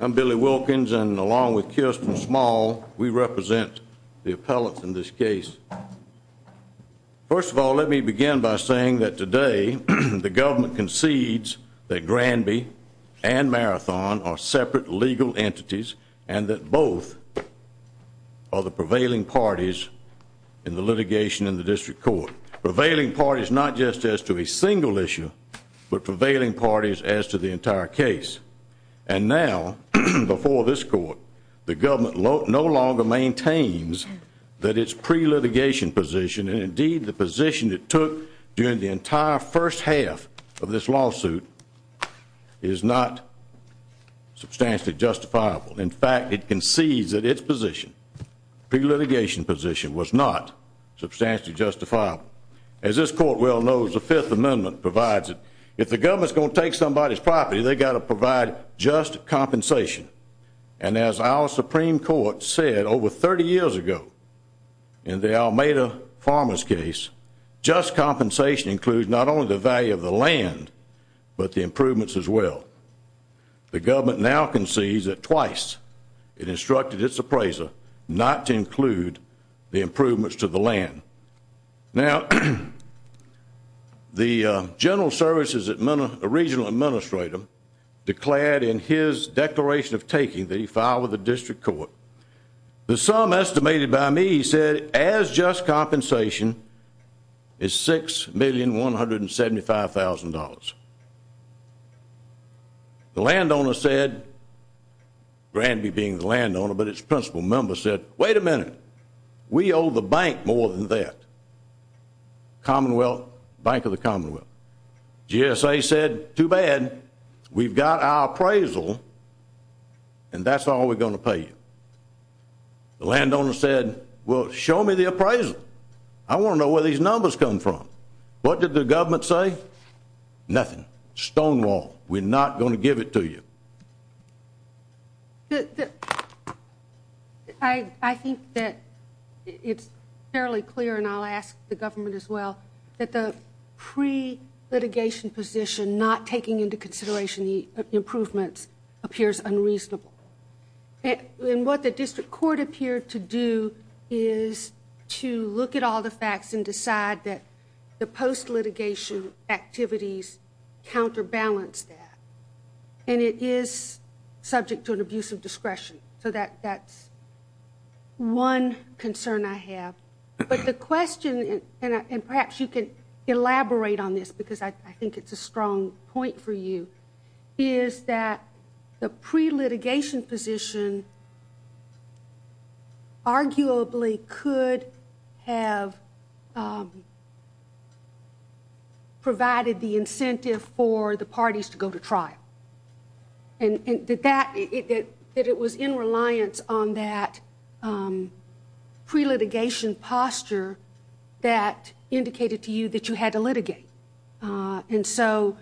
I'm Billy Wilkins, and along with Kirsten Small, we represent the appellates in this case. First of all, let me begin by saying that today the government concedes that Granby and Marathon are separate legal entities and that both are the prevailing parties in the litigation in the district court. Prevailing parties not just as to a single issue, but prevailing parties as to the entire case. And now, before this court, the government no longer maintains that its pre-litigation position and indeed the position it took during the entire first half of this lawsuit is not substantially justifiable. In fact, it concedes that its position, pre-litigation position, was not substantially justifiable. As this court well knows, the Fifth Amendment provides it. If the government is going to take somebody's property, they've got to provide just compensation. And as our Supreme Court said over 30 years ago in the Almeida Farmers case, just compensation includes not only the value of the land, but the improvements as well. The government now concedes that twice it instructed its appraiser not to include the improvements to the land. Now, the general services regional administrator declared in his declaration of taking that he filed with the district court. The sum estimated by me, he said, as just compensation is $6,175,000. The landowner said, Granby being the landowner, but its principal member said, wait a minute, we owe the bank more than that, Commonwealth, Bank of the Commonwealth. GSA said, too bad, we've got our appraisal and that's all we're going to pay you. The landowner said, well, show me the appraisal. I want to know where these numbers come from. What did the government say? Nothing. Stonewall. We're not going to give it to you. I think that it's fairly clear, and I'll ask the government as well, that the pre-litigation position not taking into consideration the improvements appears unreasonable. And what the district court appeared to do is to look at all the facts and decide that the post-litigation activities counterbalance that. And it is subject to an abuse of discretion. So that's one concern I have. But the question, and perhaps you can elaborate on this because I think it's a strong point for you, is that the pre-litigation position arguably could have provided the incentive for the parties to go to trial. And that it was in reliance on that pre-litigation posture that indicated to you that you had to litigate. And so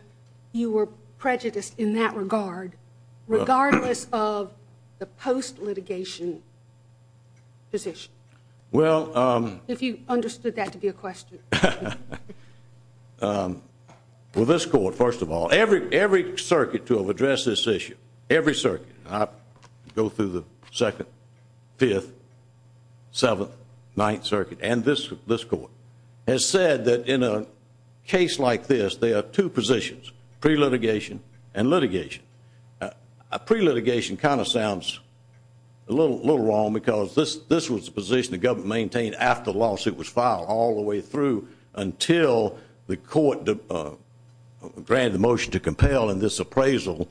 you were prejudiced in that regard, regardless of the post-litigation position. If you understood that to be a question. Well, this court, first of all, every circuit to have addressed this issue, every circuit, I go through the Second, Fifth, Seventh, Ninth Circuit, and this court, has said that in a case like this, there are two positions, pre-litigation and litigation. A pre-litigation kind of sounds a little wrong because this was the position the government maintained after the lawsuit was filed all the way through until the court granted the motion to compel and this appraisal,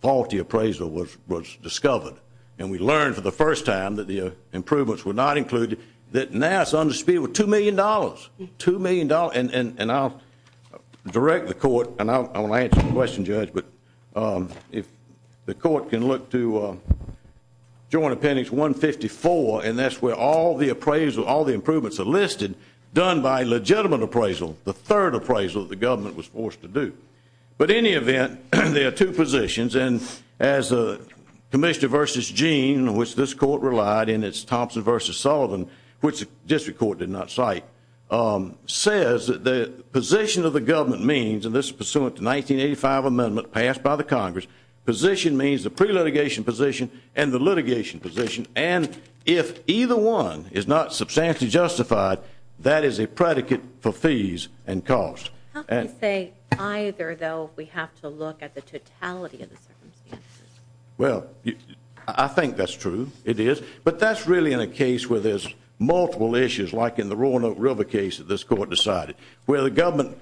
faulty appraisal, was discovered. And we learned for the first time that the improvements were not included, that now it's on dispute with $2 million, $2 million. And I'll direct the court, and I want to answer the question, Judge, but if the court can look to Joint Appendix 154, and that's where all the appraisal, all the improvements are listed, done by legitimate appraisal, the third appraisal that the government was forced to do. But in any event, there are two positions. And as Commissioner versus Gene, which this court relied, and it's Thompson versus Sullivan, which the district court did not cite, says that the position of the government means, and this is pursuant to the 1985 amendment passed by the Congress, position means the pre-litigation position and the litigation position. And if either one is not substantially justified, that is a predicate for fees and costs. How can you say either, though, if we have to look at the totality of the circumstances? Well, I think that's true. It is. But that's really in a case where there's multiple issues, like in the Roanoke River case that this court decided, where the government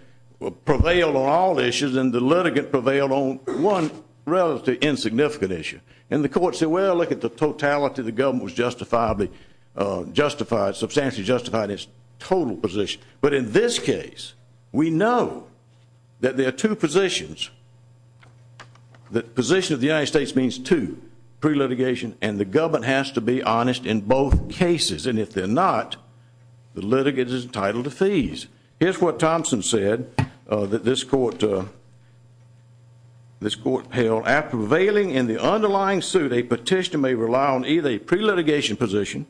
prevailed on all issues and the litigant prevailed on one relatively insignificant issue. And the court said, well, look at the totality. The government was justifiably justified, substantially justified in its total position. But in this case, we know that there are two positions. The position of the United States means two, pre-litigation and the government has to be honest in both cases. And if they're not, the litigant is entitled to fees. Here's what Thompson said that this court held. After prevailing in the underlying suit, a petitioner may rely on either a pre-litigation position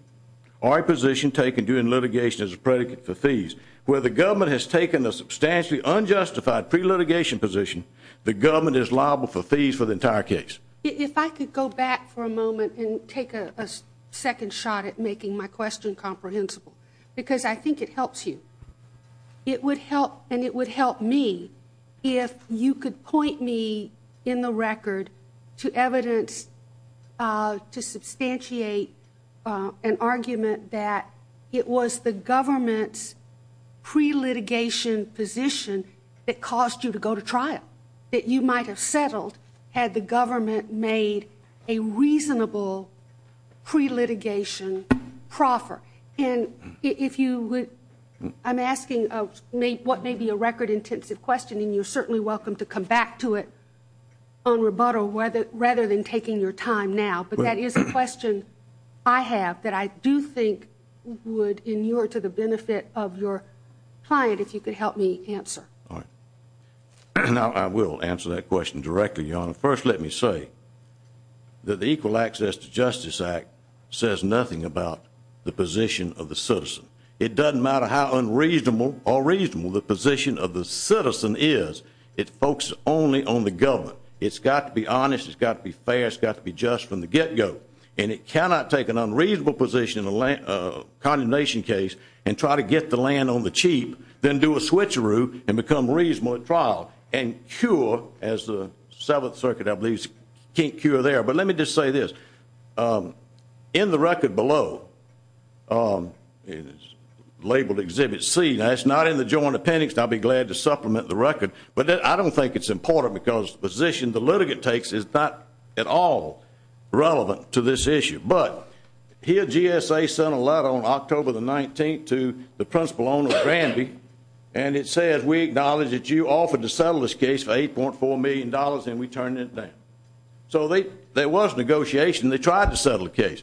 or a position taken during litigation as a predicate for fees. Where the government has taken a substantially unjustified pre-litigation position, the government is liable for fees for the entire case. If I could go back for a moment and take a second shot at making my question comprehensible, because I think it helps you. It would help me if you could point me in the record to evidence to substantiate an argument that it was the government's pre-litigation position that caused you to go to trial, that you might have settled had the government made a reasonable pre-litigation proffer. And if you would, I'm asking what may be a record-intensive question, and you're certainly welcome to come back to it on rebuttal rather than taking your time now. But that is a question I have that I do think would inure to the benefit of your client, if you could help me answer. All right. First, let me say that the Equal Access to Justice Act says nothing about the position of the citizen. It doesn't matter how unreasonable or reasonable the position of the citizen is, it focuses only on the government. It's got to be honest. It's got to be fair. It's got to be just from the get-go. And it cannot take an unreasonable position in a condemnation case and try to get the land on the cheap, then do a switcheroo and become reasonable at trial and cure, as the Seventh Circuit, I believe, can't cure there. But let me just say this. In the record below, labeled Exhibit C, that's not in the Joint Appendix, and I'll be glad to supplement the record, but I don't think it's important because the position the litigant takes is not at all relevant to this issue. But here GSA sent a letter on October the 19th to the principal owner, Granby, and it says we acknowledge that you offered to settle this case for $8.4 million and we turned it down. So there was negotiation. They tried to settle the case.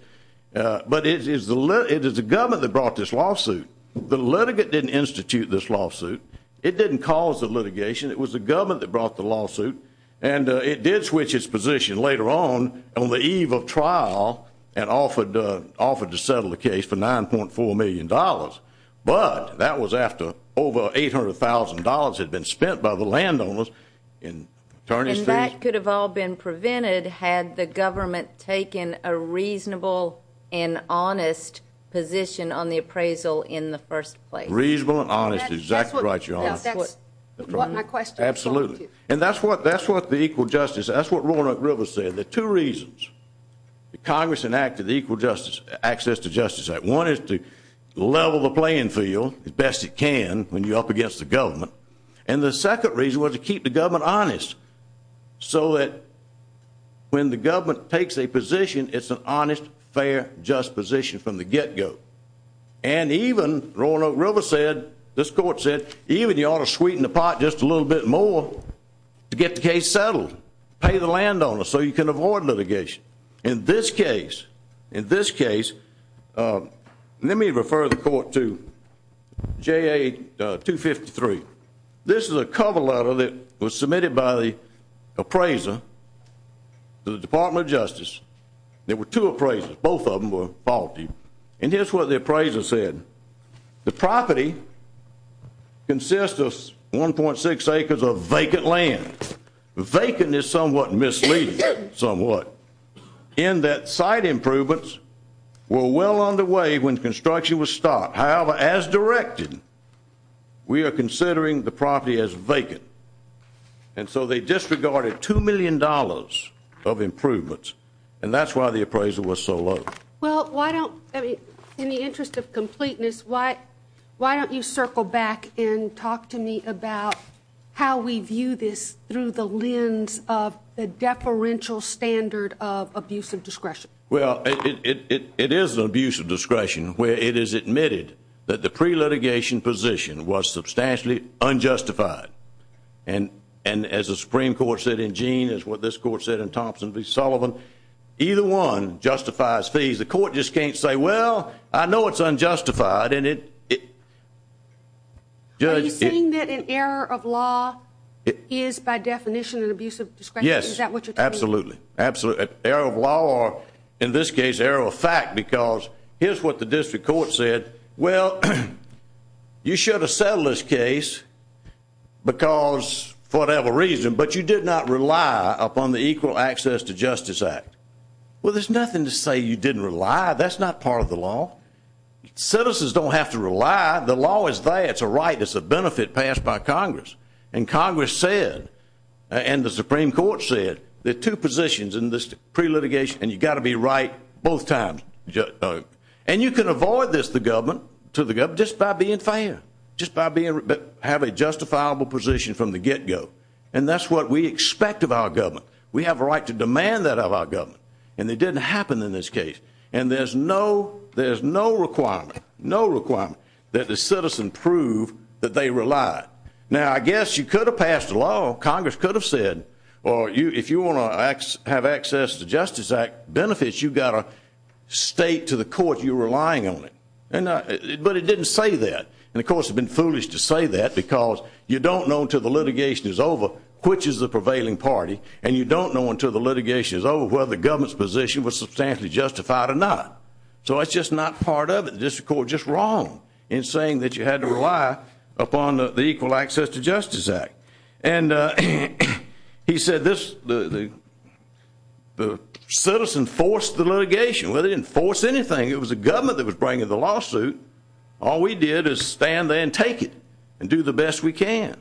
But it is the government that brought this lawsuit. The litigant didn't institute this lawsuit. It didn't cause the litigation. It was the government that brought the lawsuit. And it did switch its position later on on the eve of trial and offered to settle the case for $9.4 million. But that was after over $800,000 had been spent by the landowners and attorneys. And that could have all been prevented had the government taken a reasonable and honest position on the appraisal in the first place. Reasonable and honest is exactly right, Your Honor. That's what my question was going to be. Absolutely. And that's what the equal justice, that's what Roanoke Rivers said. There are two reasons the Congress enacted the Equal Access to Justice Act. One is to level the playing field as best it can when you're up against the government. And the second reason was to keep the government honest so that when the government takes a position, it's an honest, fair, just position from the get-go. And even Roanoke Rivers said, this court said, even you ought to sweeten the pot just a little bit more to get the case settled. Pay the landowners so you can avoid litigation. In this case, in this case, let me refer the court to JA 253. This is a cover letter that was submitted by the appraiser to the Department of Justice. There were two appraisers. Both of them were faulty. And here's what the appraiser said. The property consists of 1.6 acres of vacant land. Vacant is somewhat misleading, somewhat, in that site improvements were well underway when construction was stopped. However, as directed, we are considering the property as vacant. And so they disregarded $2 million of improvements. And that's why the appraiser was so low. Well, why don't, I mean, in the interest of completeness, why don't you circle back and talk to me about how we view this through the lens of the deferential standard of abusive discretion. Well, it is an abusive discretion where it is admitted that the pre-litigation position was substantially unjustified. And as the Supreme Court said in Gene, as what this court said in Thompson v. Sullivan, either one justifies fees. The court just can't say, well, I know it's unjustified. Are you saying that an error of law is, by definition, an abusive discretion? Yes. Is that what you're telling me? Absolutely. Error of law or, in this case, error of fact, because here's what the district court said. Well, you should have settled this case because, for whatever reason, but you did not rely upon the Equal Access to Justice Act. Well, there's nothing to say you didn't rely. That's not part of the law. Citizens don't have to rely. The law is there. It's a right. It's a benefit passed by Congress. And Congress said and the Supreme Court said there are two positions in this pre-litigation and you've got to be right both times. And you can avoid this, the government, to the government, just by being fair, just by having a justifiable position from the get-go. And that's what we expect of our government. We have a right to demand that of our government. And it didn't happen in this case. And there's no requirement that the citizen prove that they relied. Now, I guess you could have passed a law, Congress could have said, or if you want to have access to Justice Act benefits, you've got to state to the court you're relying on it. But it didn't say that. And, of course, it would have been foolish to say that because you don't know until the litigation is over which is the prevailing party and you don't know until the litigation is over whether the government's position was substantially justified or not. So that's just not part of it. The district court was just wrong in saying that you had to rely upon the Equal Access to Justice Act. And he said the citizen forced the litigation. Well, they didn't force anything. It was the government that was bringing the lawsuit. All we did is stand there and take it and do the best we can.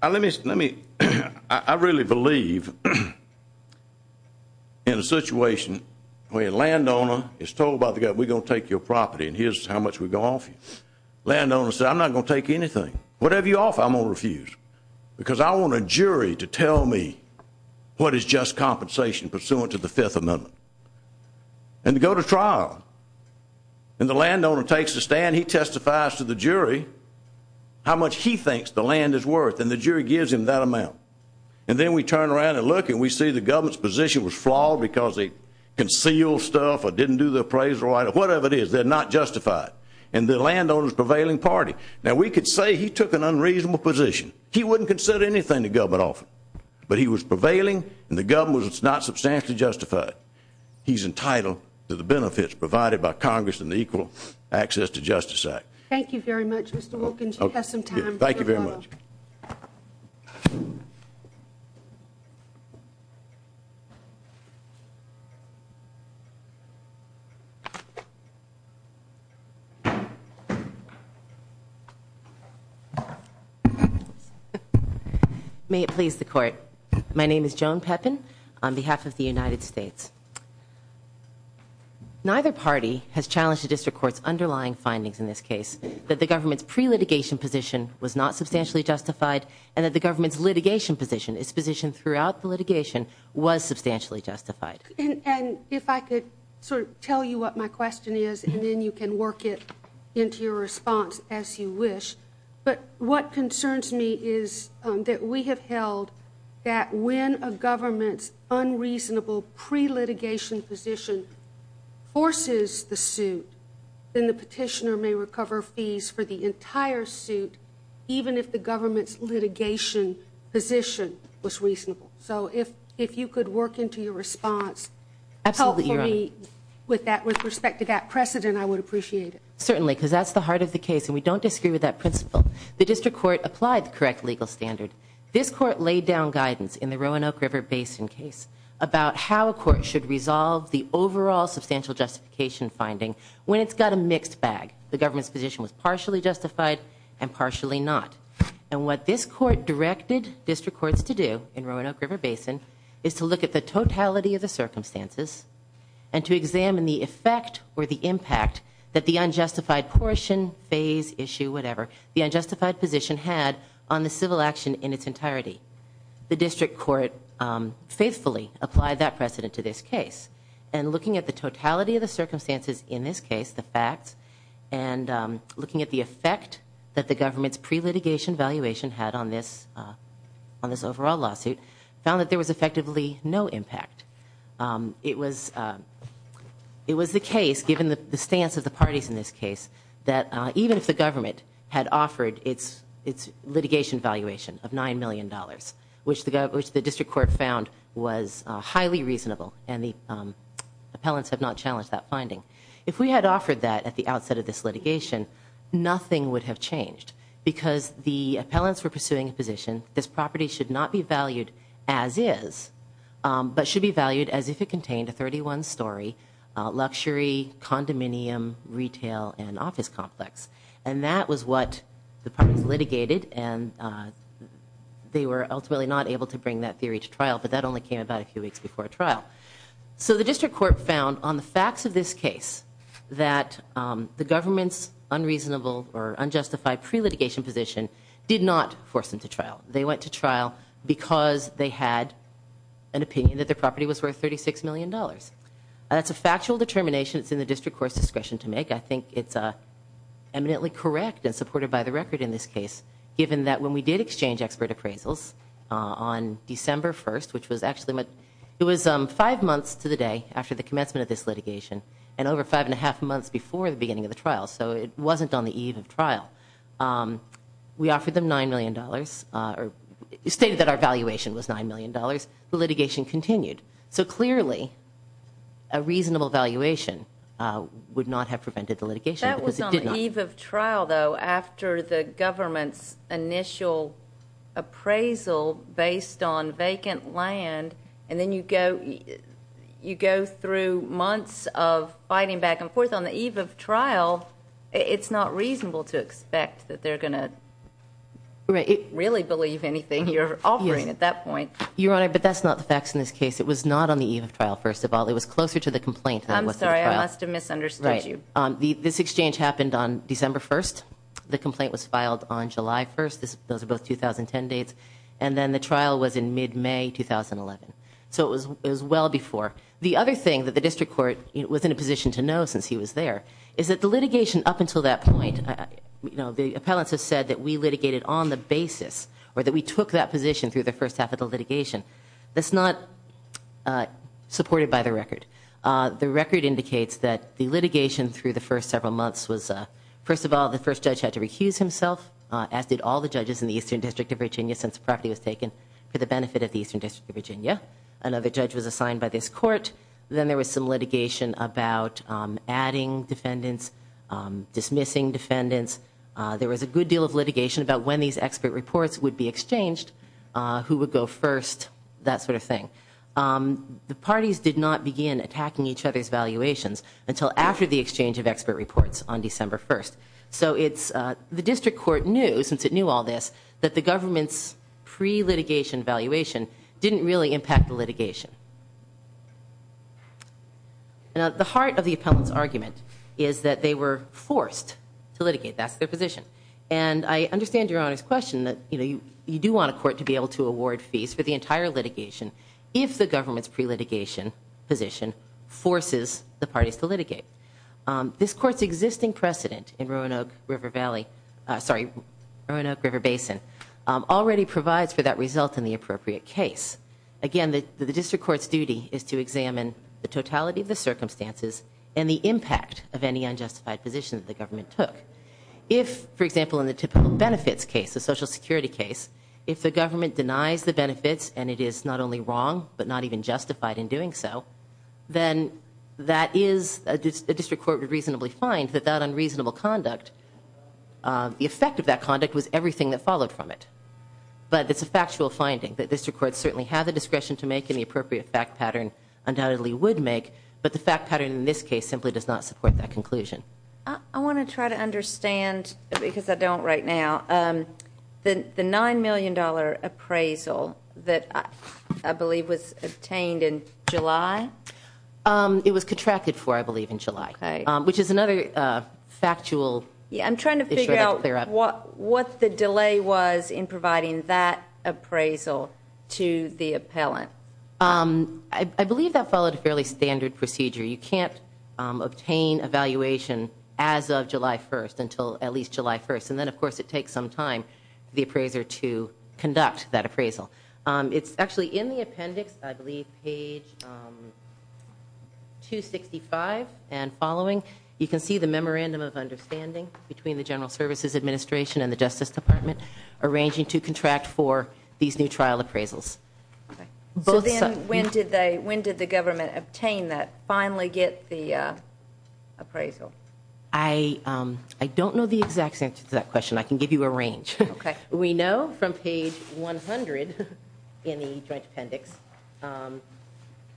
I really believe in a situation where a landowner is told by the government, we're going to take your property and here's how much we're going to offer you. Landowners say, I'm not going to take anything. Whatever you offer, I'm going to refuse because I want a jury to tell me what is just compensation pursuant to the Fifth Amendment. And to go to trial. And the landowner takes a stand. He testifies to the jury how much he thinks the land is worth. And the jury gives him that amount. And then we turn around and look and we see the government's position was flawed because they concealed stuff or didn't do the appraisal right or whatever it is. They're not justified. And the landowner's prevailing party. Now, we could say he took an unreasonable position. He wouldn't consider anything the government offered. But he was prevailing and the government was not substantially justified. He's entitled to the benefits provided by Congress and the Equal Access to Justice Act. Thank you very much, Mr. Wilkins. You have some time. Thank you very much. Thank you. May it please the court. My name is Joan Pepin on behalf of the United States. Neither party has challenged the district court's underlying findings in this case that the government's pre-litigation position was not substantially justified and that the government's litigation position, its position throughout the litigation, was substantially justified. And if I could sort of tell you what my question is and then you can work it into your response as you wish. But what concerns me is that we have held that when a government's unreasonable pre-litigation position forces the suit, then the petitioner may recover fees for the entire suit even if the government's litigation position was reasonable. So if you could work into your response. Absolutely, Your Honor. Helpfully with respect to that precedent, I would appreciate it. Certainly, because that's the heart of the case and we don't disagree with that principle. The district court applied the correct legal standard. This court laid down guidance in the Roanoke River Basin case about how a court should resolve the overall substantial justification finding when it's got a mixed bag. The government's position was partially justified and partially not. And what this court directed district courts to do in Roanoke River Basin is to look at the totality of the circumstances and to examine the effect or the impact that the unjustified portion, phase, issue, whatever, the unjustified position had on the civil action in its entirety. The district court faithfully applied that precedent to this case. And looking at the totality of the circumstances in this case, the facts, and looking at the effect that the government's pre-litigation valuation had on this overall lawsuit, found that there was effectively no impact. It was the case, given the stance of the parties in this case, that even if the government had offered its litigation valuation of $9 million, which the district court found was highly reasonable and the appellants had not challenged that finding, if we had offered that at the outset of this litigation, nothing would have changed because the appellants were pursuing a position that this property should not be valued as is, but should be valued as if it contained a 31-story luxury condominium retail and office complex. And that was what the parties litigated, and they were ultimately not able to bring that theory to trial, but that only came about a few weeks before trial. So the district court found, on the facts of this case, that the government's unreasonable or unjustified pre-litigation position did not force them to trial. They went to trial because they had an opinion that their property was worth $36 million. That's a factual determination that's in the district court's discretion to make. I think it's eminently correct and supported by the record in this case, given that when we did exchange expert appraisals on December 1st, which was actually five months to the day after the commencement of this litigation and over five and a half months before the beginning of the trial, so it wasn't on the eve of trial, we offered them $9 million or stated that our valuation was $9 million. The litigation continued. So clearly a reasonable valuation would not have prevented the litigation. That was on the eve of trial, though, after the government's initial appraisal based on vacant land, and then you go through months of fighting back and forth on the eve of trial. It's not reasonable to expect that they're going to really believe anything you're offering at that point. Your Honor, but that's not the facts in this case. It was not on the eve of trial, first of all. It was closer to the complaint than it was to the trial. I'm sorry. I must have misunderstood you. This exchange happened on December 1st. The complaint was filed on July 1st. Those are both 2010 dates. And then the trial was in mid-May 2011. So it was well before. The other thing that the district court was in a position to know since he was there is that the litigation up until that point, the appellants have said that we litigated on the basis or that we took that position through the first half of the litigation. That's not supported by the record. The record indicates that the litigation through the first several months was, first of all, the first judge had to recuse himself, as did all the judges in the Eastern District of Virginia, since the property was taken for the benefit of the Eastern District of Virginia. Another judge was assigned by this court. Then there was some litigation about adding defendants, dismissing defendants. There was a good deal of litigation about when these expert reports would be exchanged, who would go first, that sort of thing. The parties did not begin attacking each other's valuations until after the exchange of expert reports on December 1st. So the district court knew, since it knew all this, that the government's pre-litigation valuation didn't really impact the litigation. The heart of the appellant's argument is that they were forced to litigate. That's their position. And I understand Your Honor's question that you do want a court to be able to award fees for the entire litigation if the government's pre-litigation position forces the parties to litigate. This court's existing precedent in Roanoke River Valley, sorry, Roanoke River Basin, already provides for that result in the appropriate case. Again, the district court's duty is to examine the totality of the circumstances and the impact of any unjustified position that the government took. If, for example, in the typical benefits case, the Social Security case, if the government denies the benefits and it is not only wrong but not even justified in doing so, then that is, a district court would reasonably find that that unreasonable conduct, the effect of that conduct was everything that followed from it. But it's a factual finding that district courts certainly have the discretion to make and the appropriate fact pattern undoubtedly would make, but the fact pattern in this case simply does not support that conclusion. I want to try to understand, because I don't right now, the $9 million appraisal that I believe was obtained in July? It was contracted for, I believe, in July, which is another factual issue I'd like to clear up. I'm trying to figure out what the delay was in providing that appraisal to the appellant. I believe that followed a fairly standard procedure. You can't obtain a valuation as of July 1st until at least July 1st, and then, of course, it takes some time for the appraiser to conduct that appraisal. It's actually in the appendix, I believe, page 265 and following. You can see the memorandum of understanding between the General Services Administration and the Justice Department arranging to contract for these new trial appraisals. So then when did the government obtain that, finally get the appraisal? I don't know the exact answer to that question. I can give you a range. Okay. We know from page 100 in the joint appendix.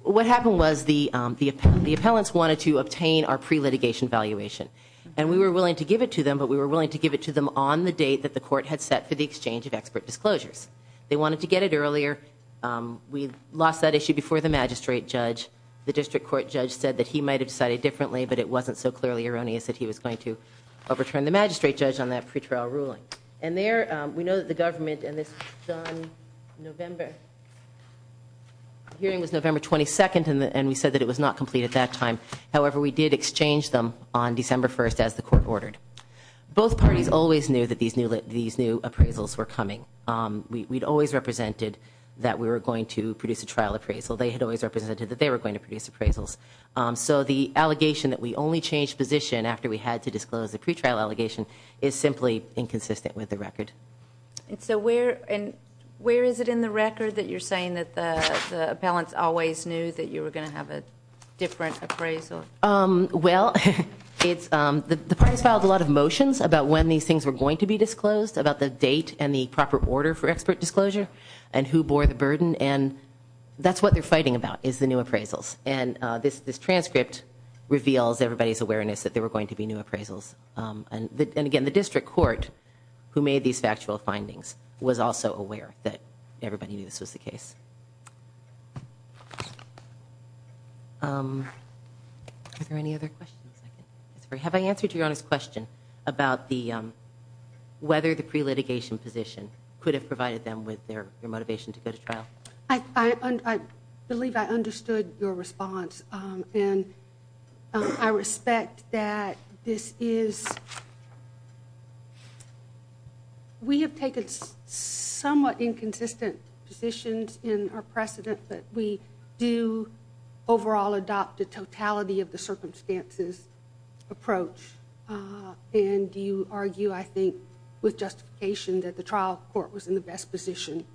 What happened was the appellants wanted to obtain our pre-litigation valuation, and we were willing to give it to them, but we were willing to give it to them on the date that the court had set for the exchange of expert disclosures. They wanted to get it earlier. We lost that issue before the magistrate judge. The district court judge said that he might have decided differently, but it wasn't so clearly erroneous that he was going to overturn the magistrate judge on that pretrial ruling. And there, we know that the government, and this was done November. The hearing was November 22nd, and we said that it was not complete at that time. However, we did exchange them on December 1st as the court ordered. Both parties always knew that these new appraisals were coming. We'd always represented that we were going to produce a trial appraisal. They had always represented that they were going to produce appraisals. So the allegation that we only changed position after we had to disclose the pretrial allegation is simply inconsistent with the record. And so where is it in the record that you're saying that the appellants always knew that you were going to have a different appraisal? Well, the parties filed a lot of motions about when these things were going to be disclosed, about the date and the proper order for expert disclosure, and who bore the burden, and that's what they're fighting about is the new appraisals. And this transcript reveals everybody's awareness that there were going to be new appraisals. And again, the district court, who made these factual findings, was also aware that everybody knew this was the case. Are there any other questions? Have I answered your honest question about whether the pre-litigation position could have provided them with their motivation to go to trial? I believe I understood your response. And I respect that this is we have taken somewhat inconsistent positions in our precedent, but we do overall adopt a totality of the circumstances approach. And do you argue, I think, with justification that the trial court was in the best position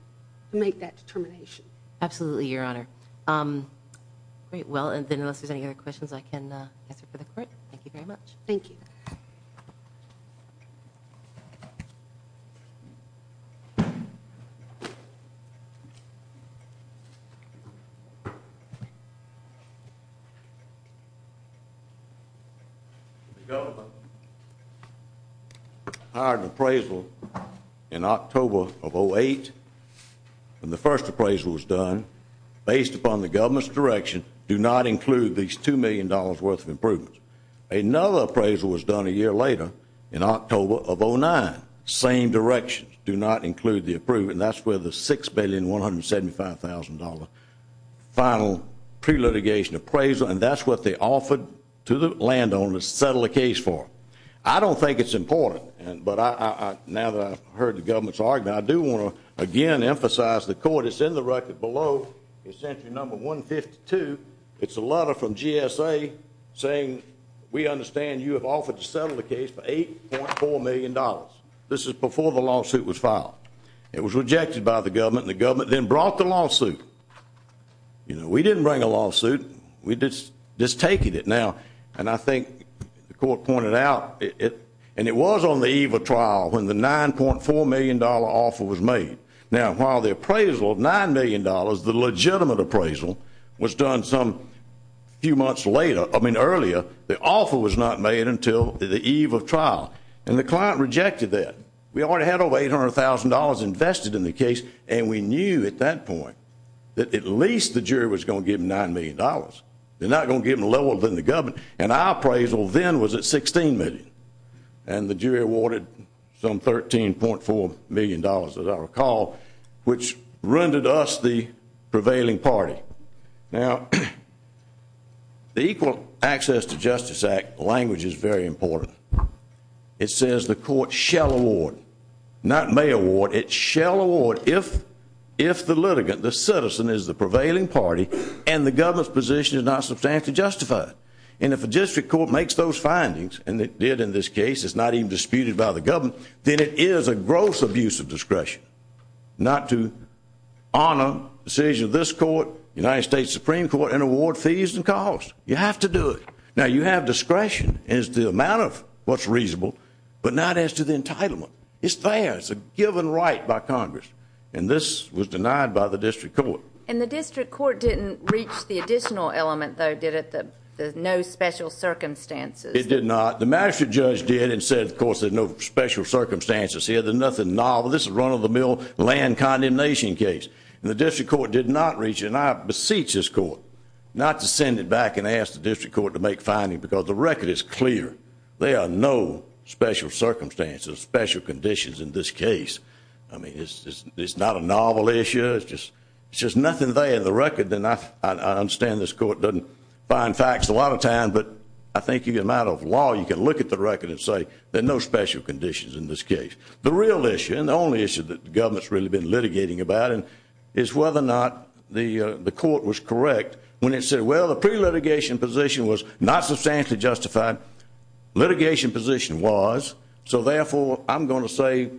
to make that determination? Absolutely, Your Honor. Great. Well, then unless there's any other questions, I can answer for the court. Thank you very much. Thank you. Thank you. The government hired an appraisal in October of 2008, and the first appraisal was done based upon the government's direction, do not include these $2 million worth of improvements. Another appraisal was done a year later in October of 2009, same direction, do not include the improvement. That's where the $6,175,000 final pre-litigation appraisal, and that's what they offered to the landowners to settle the case for. I don't think it's important, but now that I've heard the government's argument, I do want to again emphasize the court is in the record below, essentially number 152. It's a letter from GSA saying we understand you have offered to settle the case for $8.4 million. This is before the lawsuit was filed. It was rejected by the government, and the government then brought the lawsuit. We didn't bring a lawsuit. We're just taking it now, and I think the court pointed out, and it was on the eve of trial when the $9.4 million offer was made. Now, while the appraisal of $9 million, the legitimate appraisal, was done some few months later, I mean earlier, the offer was not made until the eve of trial, and the client rejected that. We already had over $800,000 invested in the case, and we knew at that point that at least the jury was going to give them $9 million. They're not going to give them lower than the government, and our appraisal then was at $16 million, and the jury awarded some $13.4 million, as I recall, which rendered us the prevailing party. Now, the Equal Access to Justice Act language is very important. It says the court shall award, not may award. It shall award if the litigant, the citizen, is the prevailing party And if a district court makes those findings, and it did in this case, it's not even disputed by the government, then it is a gross abuse of discretion not to honor the decision of this court, United States Supreme Court, and award fees and costs. You have to do it. Now, you have discretion as to the amount of what's reasonable, but not as to the entitlement. It's there. It's a given right by Congress, and this was denied by the district court. And the district court didn't reach the additional element, though, did it, the no special circumstances? It did not. The master judge did and said, of course, there's no special circumstances here. There's nothing novel. This is run-of-the-mill land condemnation case. And the district court did not reach it, and I beseech this court not to send it back and ask the district court to make findings because the record is clear. There are no special circumstances, special conditions in this case. I mean, it's not a novel issue. It's just nothing there in the record. And I understand this court doesn't find facts a lot of times, but I think in a matter of law, you can look at the record and say there are no special conditions in this case. The real issue, and the only issue that the government has really been litigating about, is whether or not the court was correct when it said, well, the pre-litigation position was not substantially justified. Litigation position was. So, therefore, I'm going to say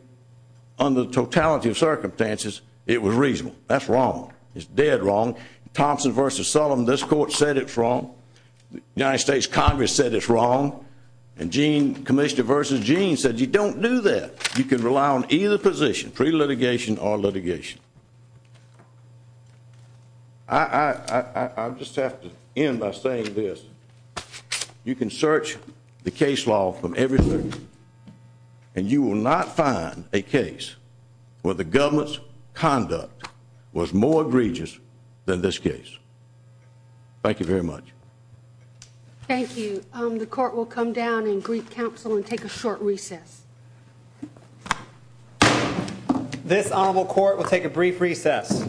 under the totality of circumstances, it was reasonable. That's wrong. It's dead wrong. Thompson v. Sullivan, this court said it's wrong. The United States Congress said it's wrong. And Gene, Commissioner v. Gene, said you don't do that. You can rely on either position, pre-litigation or litigation. I just have to end by saying this. You can search the case law from every circuit, and you will not find a case where the government's conduct was more egregious than this case. Thank you very much. Thank you. The court will come down and brief counsel and take a short recess. This honorable court will take a brief recess.